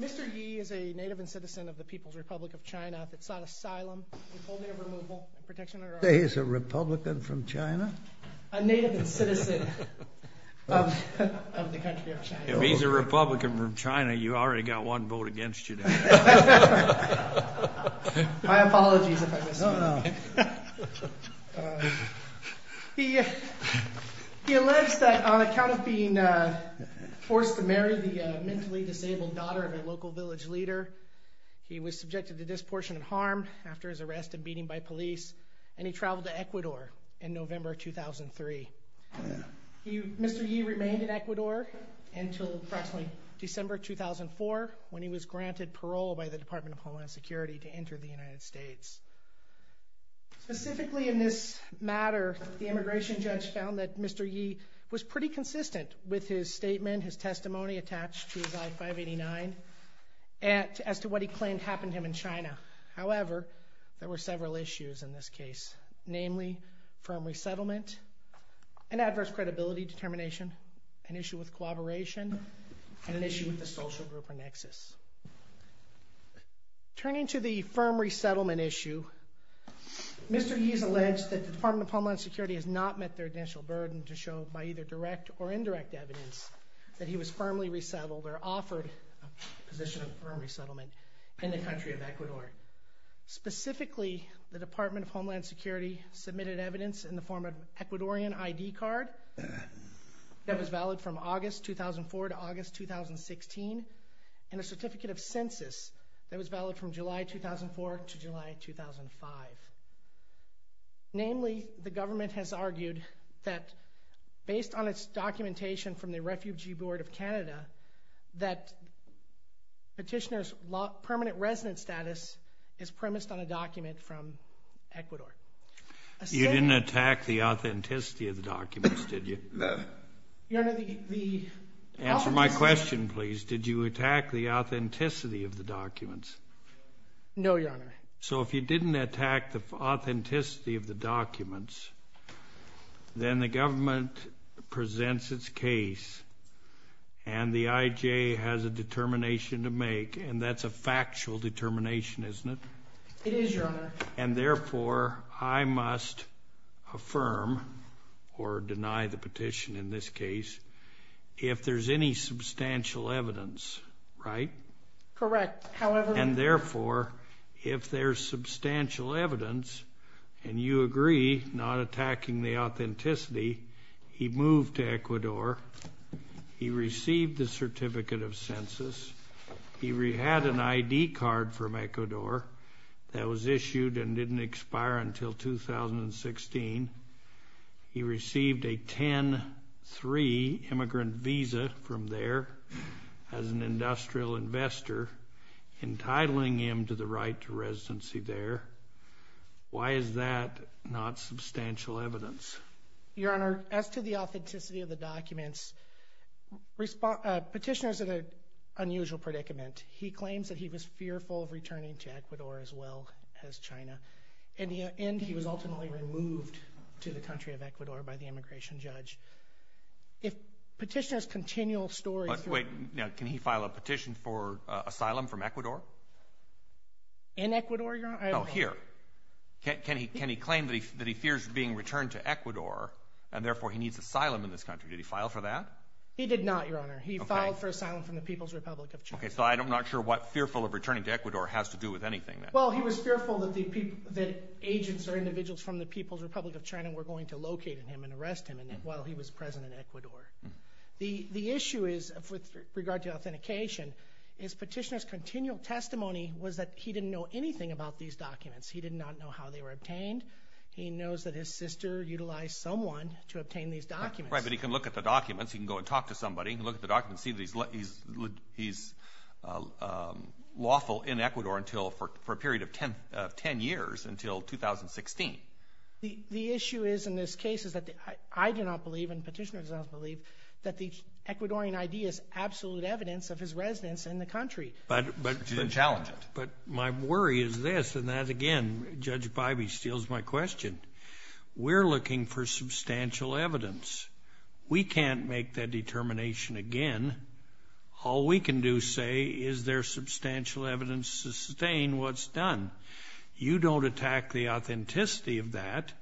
Mr. Ye is a native and citizen of the People's Republic of China that sought asylum, withholding of removal, and protection under our law. Say he's a Republican from China? A native and citizen of the country of China. If he's a Republican from China, you've already got one vote against you. My apologies if I misspoke. He alleged that on account of being forced to marry the mentally disabled daughter of a local village leader, he was subjected to disproportionate harm after his arrest and beating by police, and he traveled to Ecuador in November 2003. Mr. Ye remained in Ecuador until December 2004 when he was granted parole by the Department of Homeland Security to enter the United States. Specifically in this matter, the immigration judge found that Mr. Ye was pretty consistent with his statement, his testimony attached to his I-589 as to what he claimed happened to him in China. However, there were several issues in this case, namely firm resettlement, an adverse credibility determination, an issue with cooperation, and an issue with the social group or nexus. Turning to the firm resettlement issue, Mr. Ye has alleged that the Department of Homeland Security has not met their initial burden to show by either direct or indirect evidence that he was firmly resettled or offered a position of firm resettlement in the country of Ecuador. Specifically, the Department of Homeland Security submitted evidence in the form of an Ecuadorian ID card that was valid from August 2004 to August 2016, and a certificate of census that was valid from July 2004 to July 2005. Namely, the government has argued that based on its documentation from the Refugee Board of Canada that petitioner's permanent resident status is premised on a document from Ecuador. You didn't attack the authenticity of the documents, did you? Your Honor, the... Answer my question, please. Did you attack the authenticity of the documents? No, Your Honor. So if you didn't attack the authenticity of the documents, then the government presents its case and the IJ has a determination to make, and that's a factual determination, isn't it? It is, Your Honor. And therefore, I must affirm or deny the petition in this case if there's any substantial evidence, right? Correct. However... And therefore, if there's substantial evidence, and you agree not attacking the authenticity, he moved to Ecuador, he received the certificate of census, he had an ID card from Ecuador that was issued and didn't expire until 2016, he received a 10-3 immigrant visa from there as an industrial investor, entitling him to the right to residency there. Why is that not substantial evidence? Your Honor, as to the authenticity of the documents, petitioner's an unusual predicament. He claims that he was fearful of returning to Ecuador as well as China, and he was ultimately removed to the country of Ecuador by the immigration judge. If petitioner's continual story... Wait, now, can he file a petition for asylum from Ecuador? In Ecuador, Your Honor? No, here. Can he claim that he fears being returned to Ecuador, and therefore he needs asylum in this country? Did he file for that? He did not, Your Honor. He filed for asylum from the People's Republic of China. Okay, so I'm not sure what fearful of returning to Ecuador has to do with anything then. Well, he was fearful that agents or individuals from the People's Republic of China were going to locate him and arrest him while he was present in Ecuador. The issue is, with regard to authentication, is petitioner's continual testimony was that he didn't know anything about these documents. He did not know how they were obtained. He knows that his sister utilized someone to obtain these documents. Right, but he can look at the documents. He can go and talk to somebody. He can look at the documents and see that he's lawful in Ecuador for a period of 10 years until 2016. The issue is, in this case, is that I do not believe and petitioner does not believe that the Ecuadorian ID is absolute evidence of his residence in the country. But my worry is this, and that again, Judge Bybee, steals my question. We're looking for substantial evidence. We can't make that determination again. All we can do is say, is there substantial evidence to sustain what's done? You don't attack the authenticity of that.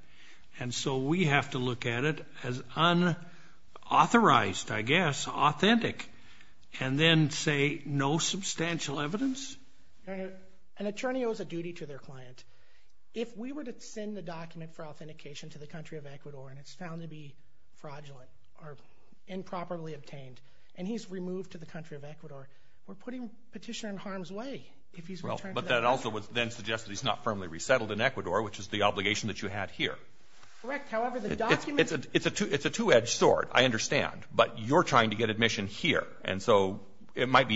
And so we have to look at it as unauthorized, I guess, authentic, and then say no substantial evidence? Your Honor, an attorney owes a duty to their client. If we were to send the document for authentication to the country of Ecuador and it's found to be fraudulent or improperly obtained, and he's removed to the country of Ecuador, we're putting petitioner in harm's way. But that also would then suggest that he's not firmly resettled in Ecuador, which is the obligation that you had here. Correct. However, the document... It's a two-edged sword, I understand, but you're trying to get admission here. And so it might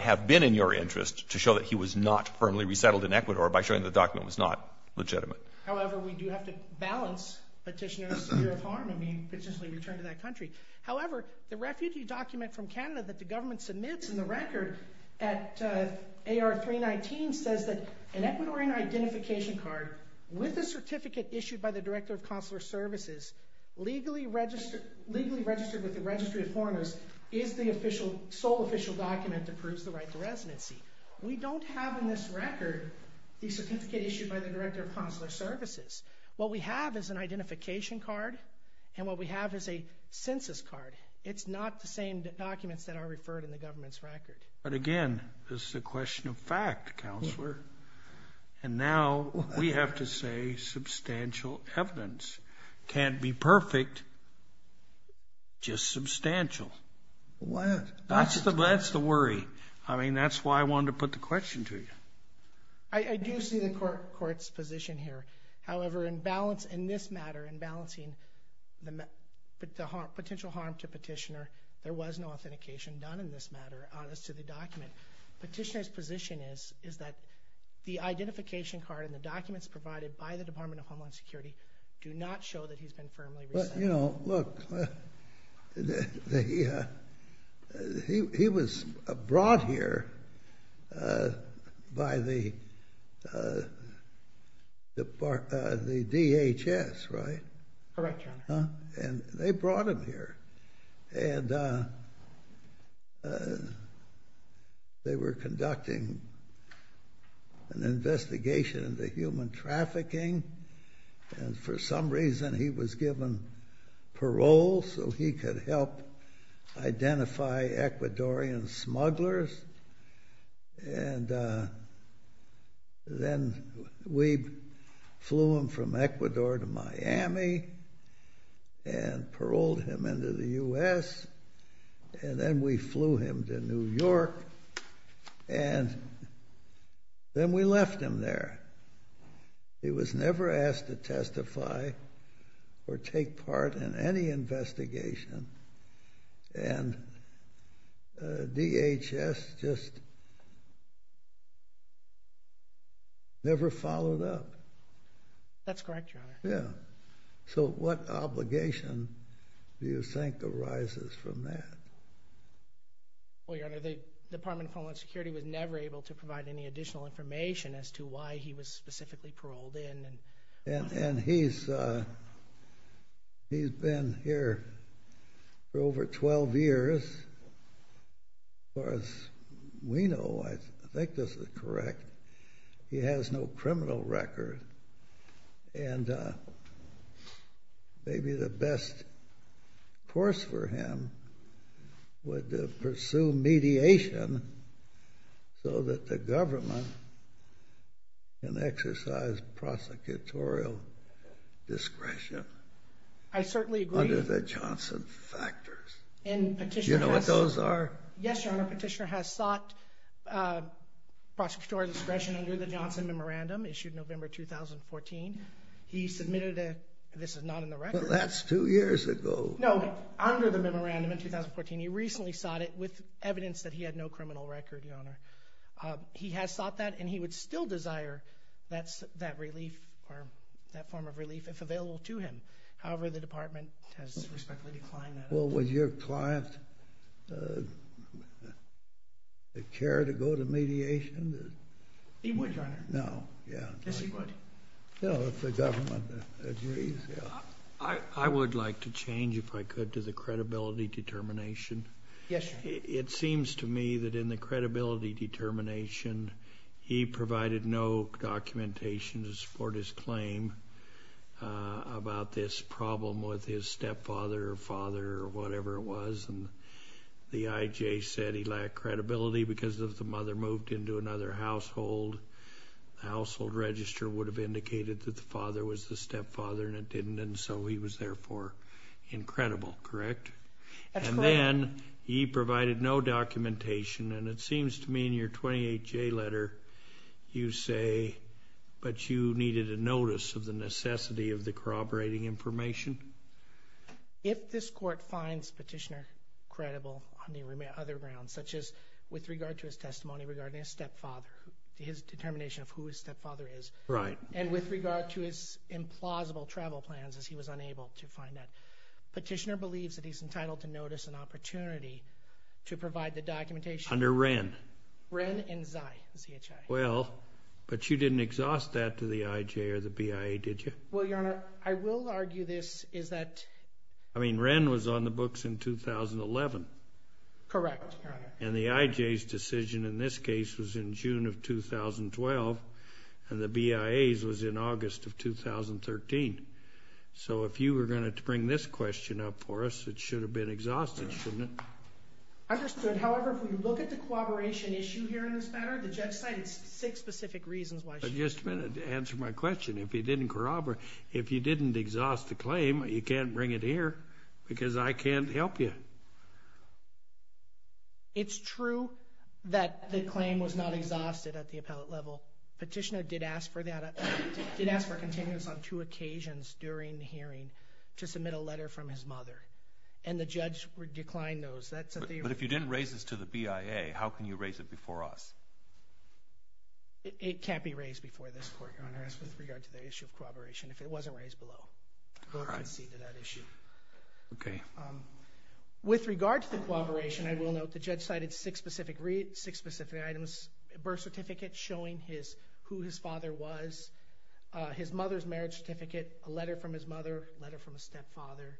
have been in your interest to show that he was not firmly resettled in Ecuador by showing the document was not legitimate. However, we do have to balance petitioner's fear of harm and being potentially returned to that country. However, the refugee document from Canada that the government submits in the record at AR 319 says that an Ecuadorian identification card with a certificate issued by the Director of Consular Services legally registered with the Registry of Foreigners is the sole official document that proves the right to residency. We don't have in this record the certificate issued by the Director of Consular Services. What we have is an identification card and what we have is a census card. It's not the same documents that are referred in the government's record. But again, this is a question of fact, Counselor. And now we have to say substantial evidence can't be perfect, just substantial. That's the worry. I mean, that's why I wanted to put the question to you. I do see the court's position here. However, in this matter, in balancing the potential harm to petitioner, there was no authentication done in this matter as to the document. Petitioner's position is that the identification card and the documents provided by the Department of Homeland Security do not show that he's been firmly resettled. Well, you know, look, he was brought here by the DHS, right? Correct, Your Honor. And they brought him here. And they were conducting an investigation into human trafficking. And for some reason, he was given parole so he could help identify Ecuadorian smugglers. And then we flew him from Ecuador to Miami and paroled him into the U.S. And then we flew him to New York. And then we left him there. He was never asked to testify or take part in any investigation. And DHS just never followed up. That's correct, Your Honor. Yeah. So what obligation do you think arises from that? Well, Your Honor, the Department of Homeland Security was never able to provide any additional information as to why he was specifically paroled in. And he's been here for over 12 years. As far as we know, I think this is correct, he has no criminal record. And maybe the best course for him would pursue mediation so that the government can exercise prosecutorial discretion. I certainly agree. Under the Johnson factors. Do you know what those are? Yes, Your Honor. Petitioner has sought prosecutorial discretion under the Johnson Memorandum issued November 2014. He submitted a, this is not in the record. Well, that's two years ago. No, under the memorandum in 2014. He recently sought it with evidence that he had no criminal record, Your Honor. He has sought that, and he would still desire that relief or that form of relief if available to him. However, the department has respectfully declined that. Well, would your client care to go to mediation? He would, Your Honor. No, yeah. Yes, he would. No, if the government agrees, yeah. I would like to change, if I could, to the credibility determination. Yes, Your Honor. It seems to me that in the credibility determination, he provided no documentation to support his claim about this problem with his stepfather or father or whatever it was, and the IJ said he lacked credibility because if the mother moved into another household, the household register would have indicated that the father was the stepfather, and it didn't, and so he was therefore incredible, correct? That's correct. Then he provided no documentation, and it seems to me in your 28J letter you say, but you needed a notice of the necessity of the corroborating information. If this court finds Petitioner credible on the other grounds, such as with regard to his testimony regarding his stepfather, his determination of who his stepfather is, and with regard to his implausible travel plans, as he was unable to find that, Petitioner believes that he's entitled to notice an opportunity to provide the documentation. Under Wren. Wren and Zai, Z-H-I. Well, but you didn't exhaust that to the IJ or the BIA, did you? Well, Your Honor, I will argue this is that... I mean, Wren was on the books in 2011. Correct, Your Honor. And the IJ's decision in this case was in June of 2012, and the BIA's was in August of 2013. So if you were going to bring this question up for us, it should have been exhausted, shouldn't it? Understood. However, if we look at the corroboration issue here in this matter, the judge cited six specific reasons why she was corroborating. Just a minute. Answer my question. If you didn't corroborate, if you didn't exhaust the claim, you can't bring it here because I can't help you. It's true that the claim was not exhausted at the appellate level. Petitioner did ask for that... did ask for a continuous on two occasions during the hearing to submit a letter from his mother, and the judge declined those. But if you didn't raise this to the BIA, how can you raise it before us? It can't be raised before this Court, Your Honor, as with regard to the issue of corroboration. If it wasn't raised below, we'll concede to that issue. Okay. With regard to the corroboration, I will note the judge cited six specific items, a birth certificate showing who his father was, his mother's marriage certificate, a letter from his mother, a letter from a stepfather,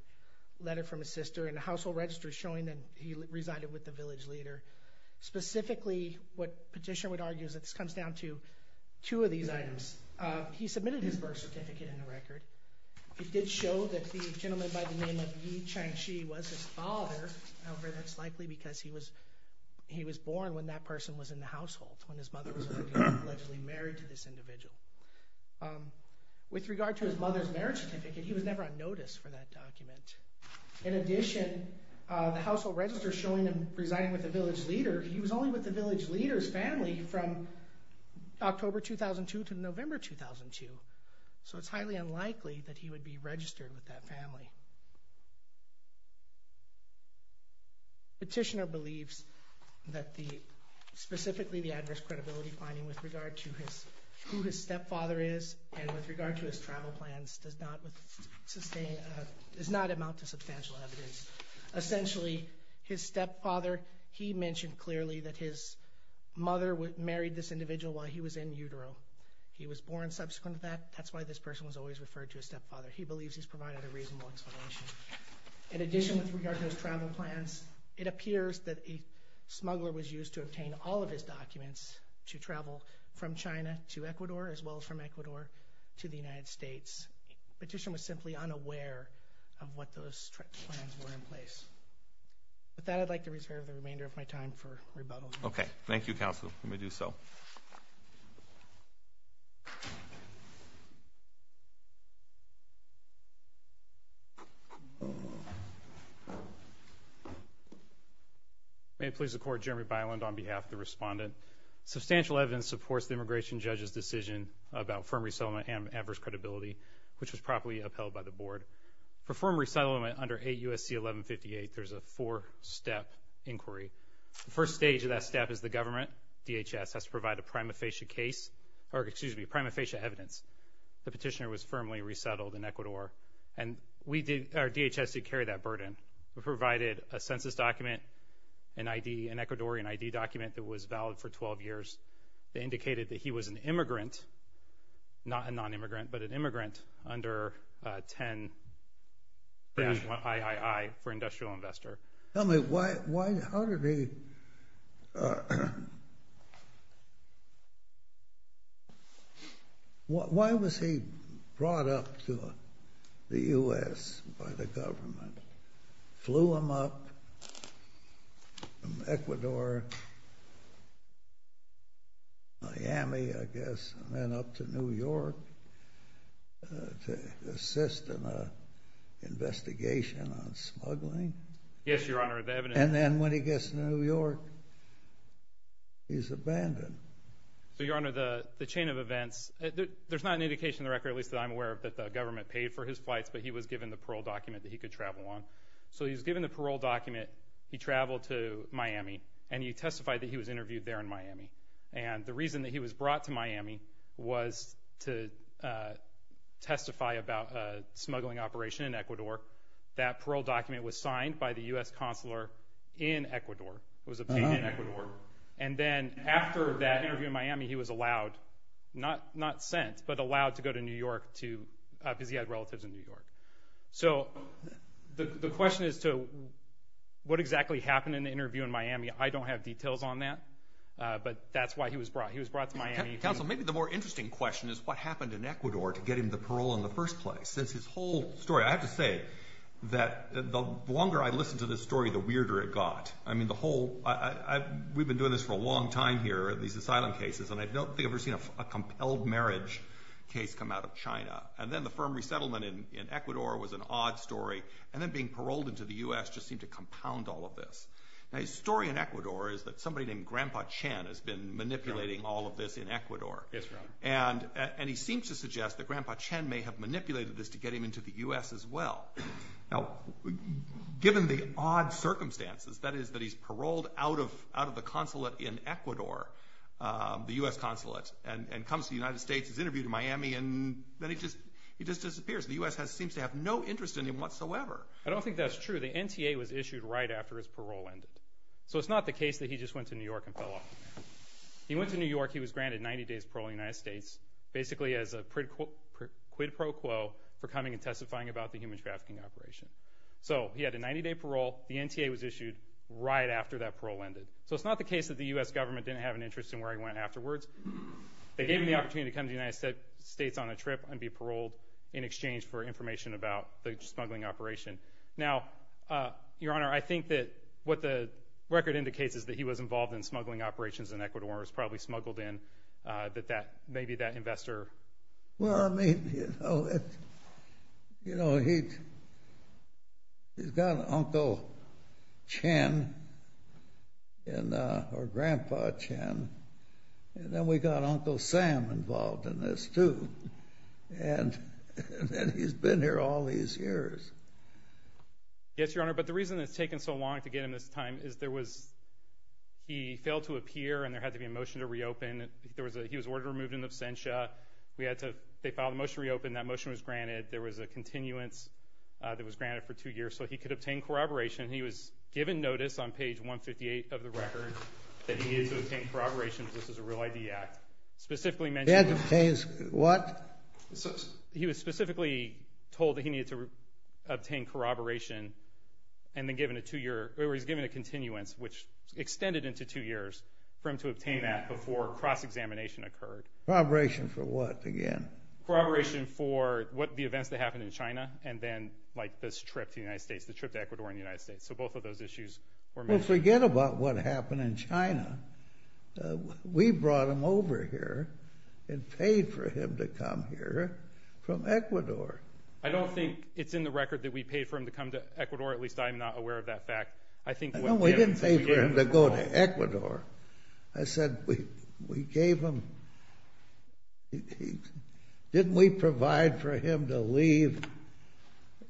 a letter from his sister, and a household register showing that he resided with the village leader. Specifically, what Petitioner would argue is that this comes down to two of these items. He submitted his birth certificate in the record. It did show that the gentleman by the name of Yi Chang Shi was his father. However, that's likely because he was born when that person was in the household, when his mother was allegedly married to this individual. With regard to his mother's marriage certificate, he was never on notice for that document. In addition, the household register showing him residing with the village leader, he was only with the village leader's family from October 2002 to November 2002. So it's highly unlikely that he would be registered with that family. Petitioner believes that specifically the adverse credibility finding with regard to who his stepfather is and with regard to his travel plans does not amount to substantial evidence. Essentially, his stepfather, he mentioned clearly that his mother married this individual while he was in utero. He was born subsequent to that. That's why this person was always referred to as stepfather. He believes he's provided a reasonable explanation. In addition, with regard to his travel plans, it appears that a smuggler was used to obtain all of his documents to travel from China to Ecuador, as well as from Ecuador to the United States. Petitioner was simply unaware of what those plans were in place. With that, I'd like to reserve the remainder of my time for rebuttal. Okay. Thank you, Counselor. Let me do so. Thank you. May it please the Court, Jeremy Byland on behalf of the respondent. Substantial evidence supports the immigration judge's decision about firm resettlement and adverse credibility, which was properly upheld by the Board. For firm resettlement under 8 U.S.C. 1158, there's a four-step inquiry. The first stage of that step is the government, DHS, has to provide a prima facie evidence. The petitioner was firmly resettled in Ecuador. And our DHS did carry that burden. We provided a census document, an Ecuadorian ID document that was valid for 12 years that indicated that he was an immigrant, not a non-immigrant, but an immigrant under 10-1-I-I-I for industrial investor. Tell me, why was he brought up to the U.S. by the government? Flew him up from Ecuador, Miami, I guess, and then up to New York to assist in an investigation on smuggling? Yes, Your Honor. And then when he gets to New York, he's abandoned. So, Your Honor, the chain of events, there's not an indication in the record, at least that I'm aware of, that the government paid for his flights, but he was given the parole document that he could travel on. So he was given the parole document, he traveled to Miami, and he testified that he was interviewed there in Miami. And the reason that he was brought to Miami was to testify about a smuggling operation in Ecuador. That parole document was signed by the U.S. consular in Ecuador. It was obtained in Ecuador. And then after that interview in Miami, he was allowed, not sent, but allowed to go to New York because he had relatives in New York. I don't have details on that, but that's why he was brought. He was brought to Miami. Counsel, maybe the more interesting question is what happened in Ecuador to get him the parole in the first place. His whole story, I have to say that the longer I listened to this story, the weirder it got. I mean, the whole, we've been doing this for a long time here, these asylum cases, and I don't think I've ever seen a compelled marriage case come out of China. And then the firm resettlement in Ecuador was an odd story, and then being paroled into the U.S. just seemed to compound all of this. Now, his story in Ecuador is that somebody named Grandpa Chen has been manipulating all of this in Ecuador. Yes, right. And he seems to suggest that Grandpa Chen may have manipulated this to get him into the U.S. as well. Now, given the odd circumstances, that is that he's paroled out of the consulate in Ecuador, the U.S. consulate, and comes to the United States, is interviewed in Miami, and then he just disappears. The U.S. seems to have no interest in him whatsoever. I don't think that's true. The NTA was issued right after his parole ended. So it's not the case that he just went to New York and fell off. He went to New York. He was granted 90 days parole in the United States, basically as a quid pro quo for coming and testifying about the human trafficking operation. So he had a 90-day parole. The NTA was issued right after that parole ended. So it's not the case that the U.S. government didn't have an interest in where he went afterwards. They gave him the opportunity to come to the United States on a trip and be paroled in exchange for information about the smuggling operation. Now, Your Honor, I think that what the record indicates is that he was involved in smuggling operations in Ecuador, was probably smuggled in, that maybe that investor. Well, I mean, you know, he's got Uncle Chen or Grandpa Chen, and then we've got Uncle Sam involved in this, too. And he's been here all these years. Yes, Your Honor, but the reason it's taken so long to get him this time is there was he failed to appear and there had to be a motion to reopen. He was ordered to be removed in absentia. They filed a motion to reopen. That motion was granted. There was a continuance that was granted for two years. So he could obtain corroboration. He was given notice on page 158 of the record that he needed to obtain corroboration if this was a real ID act. He had to obtain what? He was specifically told that he needed to obtain corroboration, and then given a two-year, or he was given a continuance, which extended into two years for him to obtain that before cross-examination occurred. Corroboration for what, again? Corroboration for the events that happened in China and then, like, this trip to the United States, the trip to Ecuador and the United States. So both of those issues were mentioned. Well, forget about what happened in China. We brought him over here and paid for him to come here from Ecuador. I don't think it's in the record that we paid for him to come to Ecuador. At least I'm not aware of that fact. No, we didn't pay for him to go to Ecuador. I said we gave him. Didn't we provide for him to leave?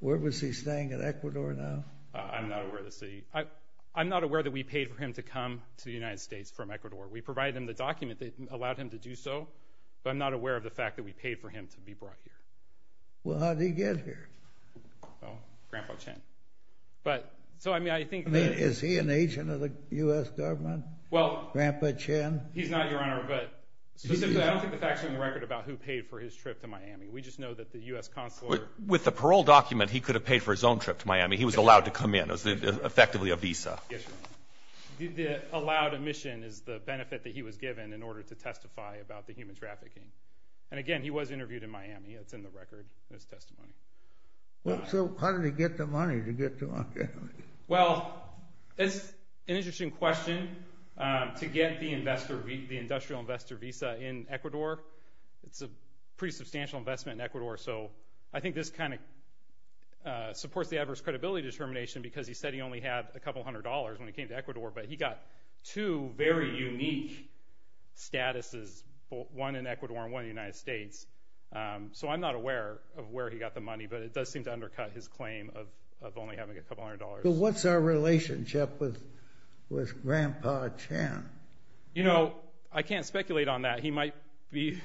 Where was he staying, in Ecuador now? I'm not aware of the city. We provided him the document that allowed him to do so, but I'm not aware of the fact that we paid for him to be brought here. Well, how did he get here? Grandpa Chen. I mean, is he an agent of the U.S. government? Grandpa Chen? He's not, Your Honor, but specifically, I don't think the facts are in the record about who paid for his trip to Miami. We just know that the U.S. consular. With the parole document, he could have paid for his own trip to Miami. He was allowed to come in. It was effectively a visa. The allowed admission is the benefit that he was given in order to testify about the human trafficking. And again, he was interviewed in Miami. It's in the record in his testimony. So how did he get the money to get to Miami? Well, it's an interesting question. To get the industrial investor visa in Ecuador, it's a pretty substantial investment in Ecuador, so I think this kind of supports the adverse credibility determination because he said he only had a couple hundred dollars when he came to Ecuador, but he got two very unique statuses, one in Ecuador and one in the United States. So I'm not aware of where he got the money, but it does seem to undercut his claim of only having a couple hundred dollars. But what's our relationship with Grandpa Chen? You know, I can't speculate on that. He might be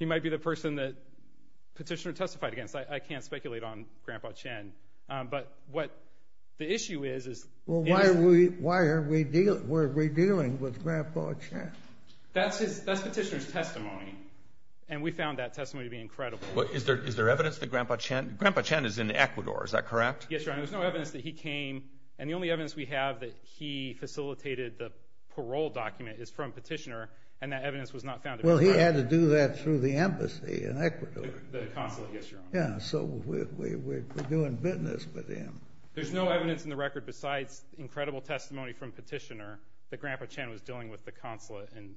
the person that Petitioner testified against. I can't speculate on Grandpa Chen. But what the issue is is— Well, why are we dealing with Grandpa Chen? That's Petitioner's testimony, and we found that testimony to be incredible. Is there evidence that Grandpa Chen is in Ecuador? Is that correct? Yes, Your Honor. There's no evidence that he came, and the only evidence we have that he facilitated the parole document is from Petitioner, and that evidence was not found in Ecuador. The consulate, yes, Your Honor. Yeah, so we're doing business with him. There's no evidence in the record besides incredible testimony from Petitioner that Grandpa Chen was dealing with the consulate in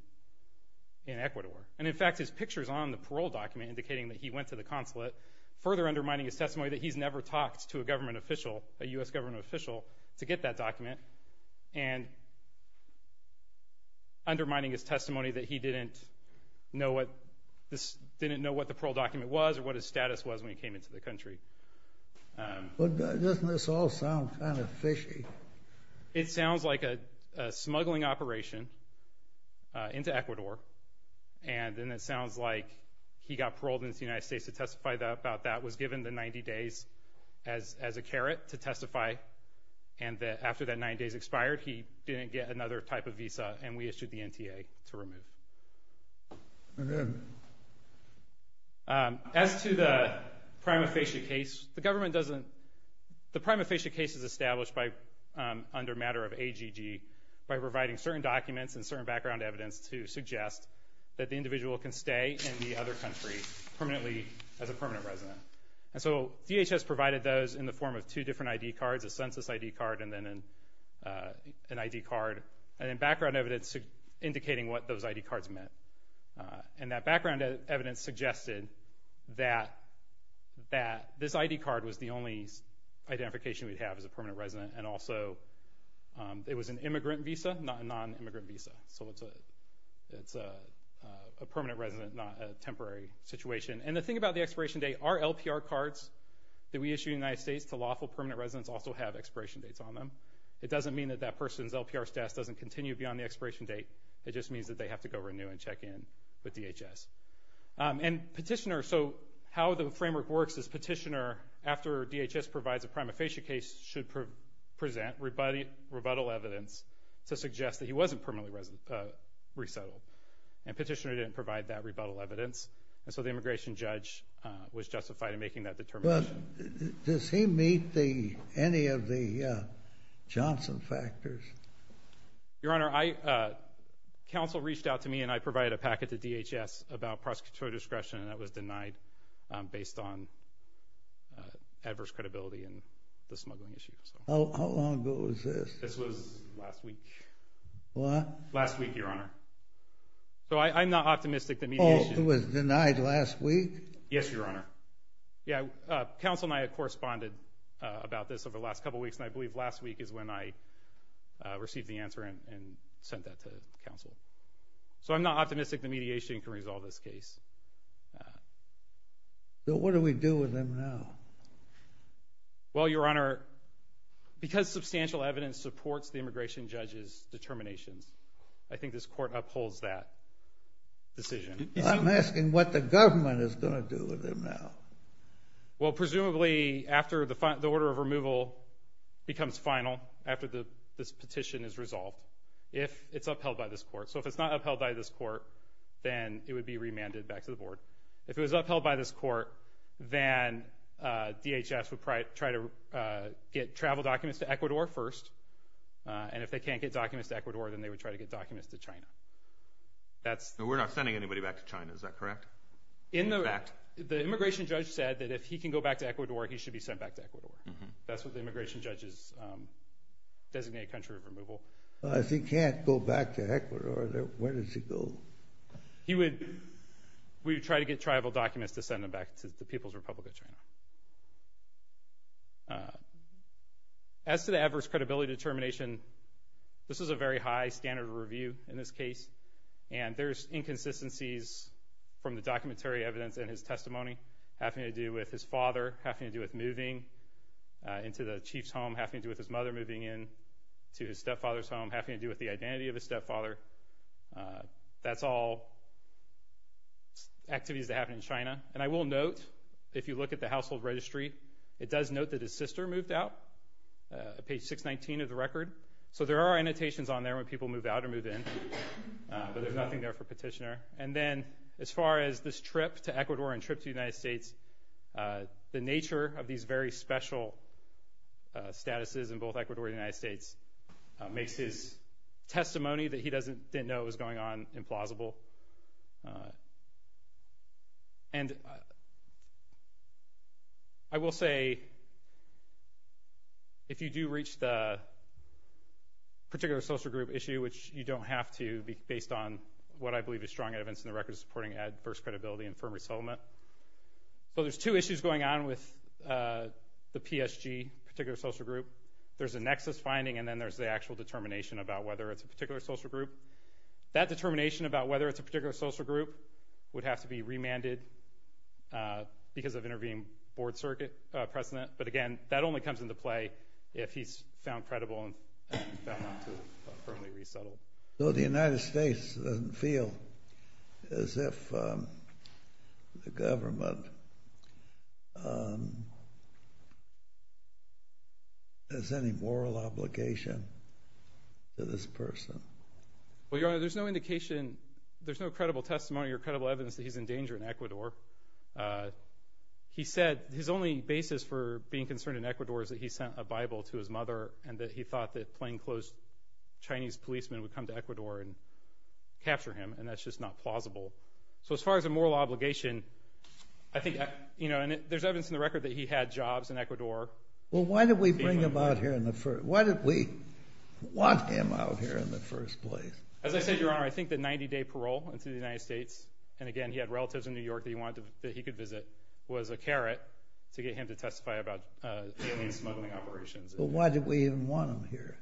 Ecuador. And, in fact, his picture is on the parole document indicating that he went to the consulate, further undermining his testimony that he's never talked to a government official, a U.S. government official, to get that document, and undermining his testimony that he didn't know what the parole document was or what his status was when he came into the country. Doesn't this all sound kind of fishy? It sounds like a smuggling operation into Ecuador, and then it sounds like he got paroled into the United States to testify about that, was given the 90 days as a carrot to testify, and that after that 90 days expired, he didn't get another type of visa, and we issued the NTA to remove. And then? As to the prima facie case, the government doesn't – the prima facie case is established under a matter of AGG by providing certain documents and certain background evidence to suggest that the individual can stay in the other country as a permanent resident. And so DHS provided those in the form of two different ID cards, a census ID card and then an ID card, and then background evidence indicating what those ID cards meant. And that background evidence suggested that this ID card was the only identification we'd have as a permanent resident, and also it was an immigrant visa, not a non-immigrant visa. So it's a permanent resident, not a temporary situation. And the thing about the expiration date, our LPR cards that we issue in the United States to lawful permanent residents also have expiration dates on them. It doesn't mean that that person's LPR status doesn't continue beyond the expiration date. It just means that they have to go renew and check in with DHS. And Petitioner – so how the framework works is Petitioner, after DHS provides a prima facie case, should present rebuttal evidence to suggest that he wasn't permanently resettled. And Petitioner didn't provide that rebuttal evidence, and so the immigration judge was justified in making that determination. Does he meet any of the Johnson factors? Your Honor, counsel reached out to me, and I provided a packet to DHS about prosecutorial discretion, and that was denied based on adverse credibility and the smuggling issue. How long ago was this? This was last week. What? Last week, Your Honor. So I'm not optimistic that mediation – Oh, it was denied last week? Yes, Your Honor. Yeah, counsel and I have corresponded about this over the last couple weeks, and I believe last week is when I received the answer and sent that to counsel. So I'm not optimistic that mediation can resolve this case. So what do we do with him now? Well, Your Honor, because substantial evidence supports the immigration judge's determinations, I think this Court upholds that decision. I'm asking what the government is going to do with him now. Well, presumably after the order of removal becomes final, after this petition is resolved, if it's upheld by this Court. So if it's not upheld by this Court, then it would be remanded back to the Board. If it was upheld by this Court, then DHS would try to get travel documents to Ecuador first, and if they can't get documents to Ecuador, then they would try to get documents to China. We're not sending anybody back to China, is that correct? In fact, the immigration judge said that if he can go back to Ecuador, he should be sent back to Ecuador. That's what the immigration judge's designated country of removal. If he can't go back to Ecuador, then where does he go? We would try to get travel documents to send them back to the People's Republic of China. As to the adverse credibility determination, this is a very high standard of review in this case, and there's inconsistencies from the documentary evidence in his testimony, having to do with his father, having to do with moving into the chief's home, having to do with his mother moving into his stepfather's home, having to do with the identity of his stepfather. That's all activities that happen in China. And I will note, if you look at the household registry, it does note that his sister moved out, page 619 of the record. So there are annotations on there when people move out or move in, but there's nothing there for Petitioner. And then as far as this trip to Ecuador and trip to the United States, the nature of these very special statuses in both Ecuador and the United States makes his testimony that he didn't know was going on implausible. And I will say, if you do reach the particular social group issue, which you don't have to based on what I believe is strong evidence in the record supporting adverse credibility and firm resettlement. So there's two issues going on with the PSG particular social group. There's a nexus finding, and then there's the actual determination about whether it's a particular social group. That determination about whether it's a particular social group would have to be remanded because of intervening board precedent. But again, that only comes into play if he's found credible and found not to firmly resettle. So the United States doesn't feel as if the government has any moral obligation to this person. Well, Your Honor, there's no indication, there's no credible testimony or credible evidence that he's in danger in Ecuador. He said his only basis for being concerned in Ecuador is that he sent a Bible to his mother and that he thought that plainclothes Chinese policemen would come to Ecuador and capture him, and that's just not plausible. So as far as a moral obligation, I think there's evidence in the record that he had jobs in Ecuador. Well, why did we bring him out here? Why did we want him out here in the first place? As I said, Your Honor, I think the 90-day parole into the United States, and again, he had relatives in New York that he could visit, was a carrot to get him to testify about smuggling operations. Well, why did we even want him here?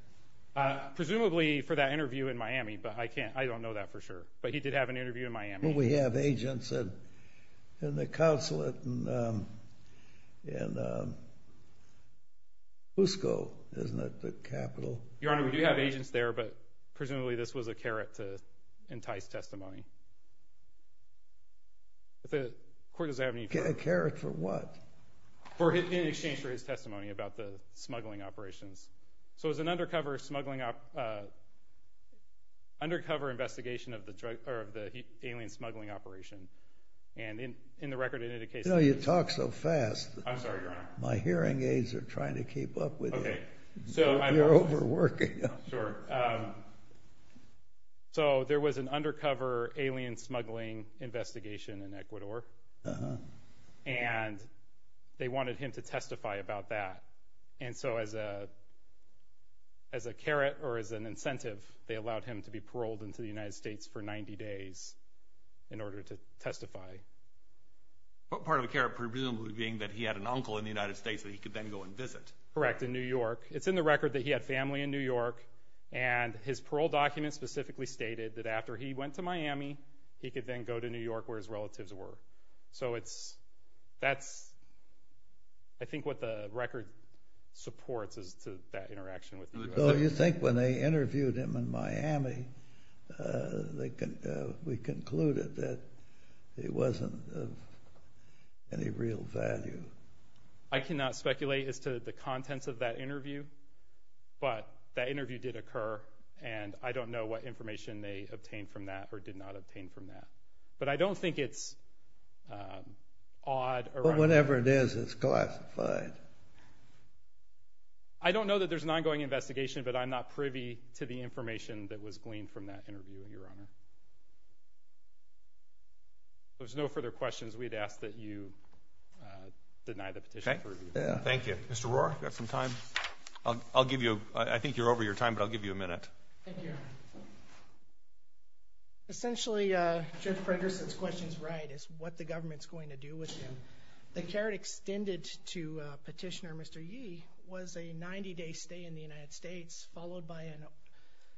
Presumably for that interview in Miami, but I don't know that for sure. But he did have an interview in Miami. Well, we have agents in the consulate in Cusco, isn't it, the capital? Your Honor, we do have agents there, but presumably this was a carrot to entice testimony. A carrot for what? In exchange for his testimony about the smuggling operations. So it was an undercover investigation of the alien smuggling operation, and in the record it indicates that he was… You know, you talk so fast. I'm sorry, Your Honor. My hearing aids are trying to keep up with you. You're overworking. Sure. So there was an undercover alien smuggling investigation in Ecuador, and they wanted him to testify about that. And so as a carrot or as an incentive, they allowed him to be paroled into the United States for 90 days in order to testify. What part of a carrot, presumably, being that he had an uncle in the United States that he could then go and visit? Correct, in New York. It's in the record that he had family in New York, and his parole document specifically stated that after he went to Miami, he could then go to New York where his relatives were. So that's, I think, what the record supports as to that interaction with him. So you think when they interviewed him in Miami, we concluded that he wasn't of any real value? I cannot speculate as to the contents of that interview, but that interview did occur, and I don't know what information they obtained from that or did not obtain from that. But I don't think it's odd. Well, whatever it is, it's classified. I don't know that there's an ongoing investigation, but I'm not privy to the information that was gleaned from that interview, Your Honor. If there's no further questions, we'd ask that you deny the petition for review. Okay. Thank you. Mr. Rohrer, do you have some time? I'll give you, I think you're over your time, but I'll give you a minute. Thank you. Yes, sir. Essentially, Judge Fragerson's question is right. It's what the government's going to do with him. The care extended to Petitioner Mr. Yee was a 90-day stay in the United States followed by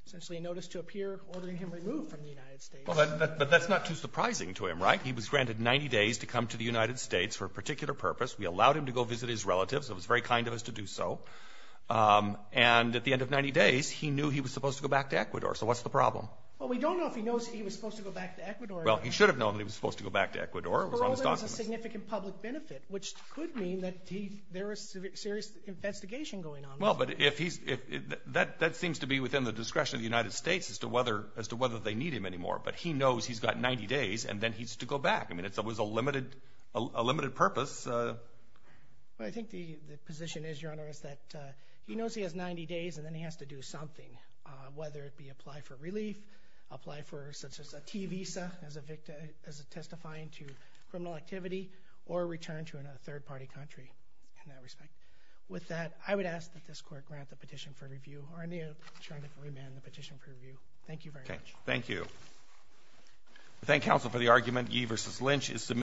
essentially a notice to appear ordering him removed from the United States. But that's not too surprising to him, right? He was granted 90 days to come to the United States for a particular purpose. We allowed him to go visit his relatives. It was very kind of us to do so. And at the end of 90 days, he knew he was supposed to go back to Ecuador. So what's the problem? Well, we don't know if he knows he was supposed to go back to Ecuador. Well, he should have known he was supposed to go back to Ecuador. It was on his documents. For all that, it was a significant public benefit, which could mean that there was serious investigation going on. Well, but that seems to be within the discretion of the United States as to whether they need him anymore. But he knows he's got 90 days, and then he's to go back. I mean, it was a limited purpose. Well, I think the position is, Your Honor, is that he knows he has 90 days, and then he has to do something, whether it be apply for relief, apply for such as a T visa as a testifying to criminal activity, or return to a third-party country in that respect. With that, I would ask that this Court grant the petition for review, or in the interest of remand, the petition for review. Thank you very much. Thank you. We thank counsel for the argument. Ye versus Lynch is submitted.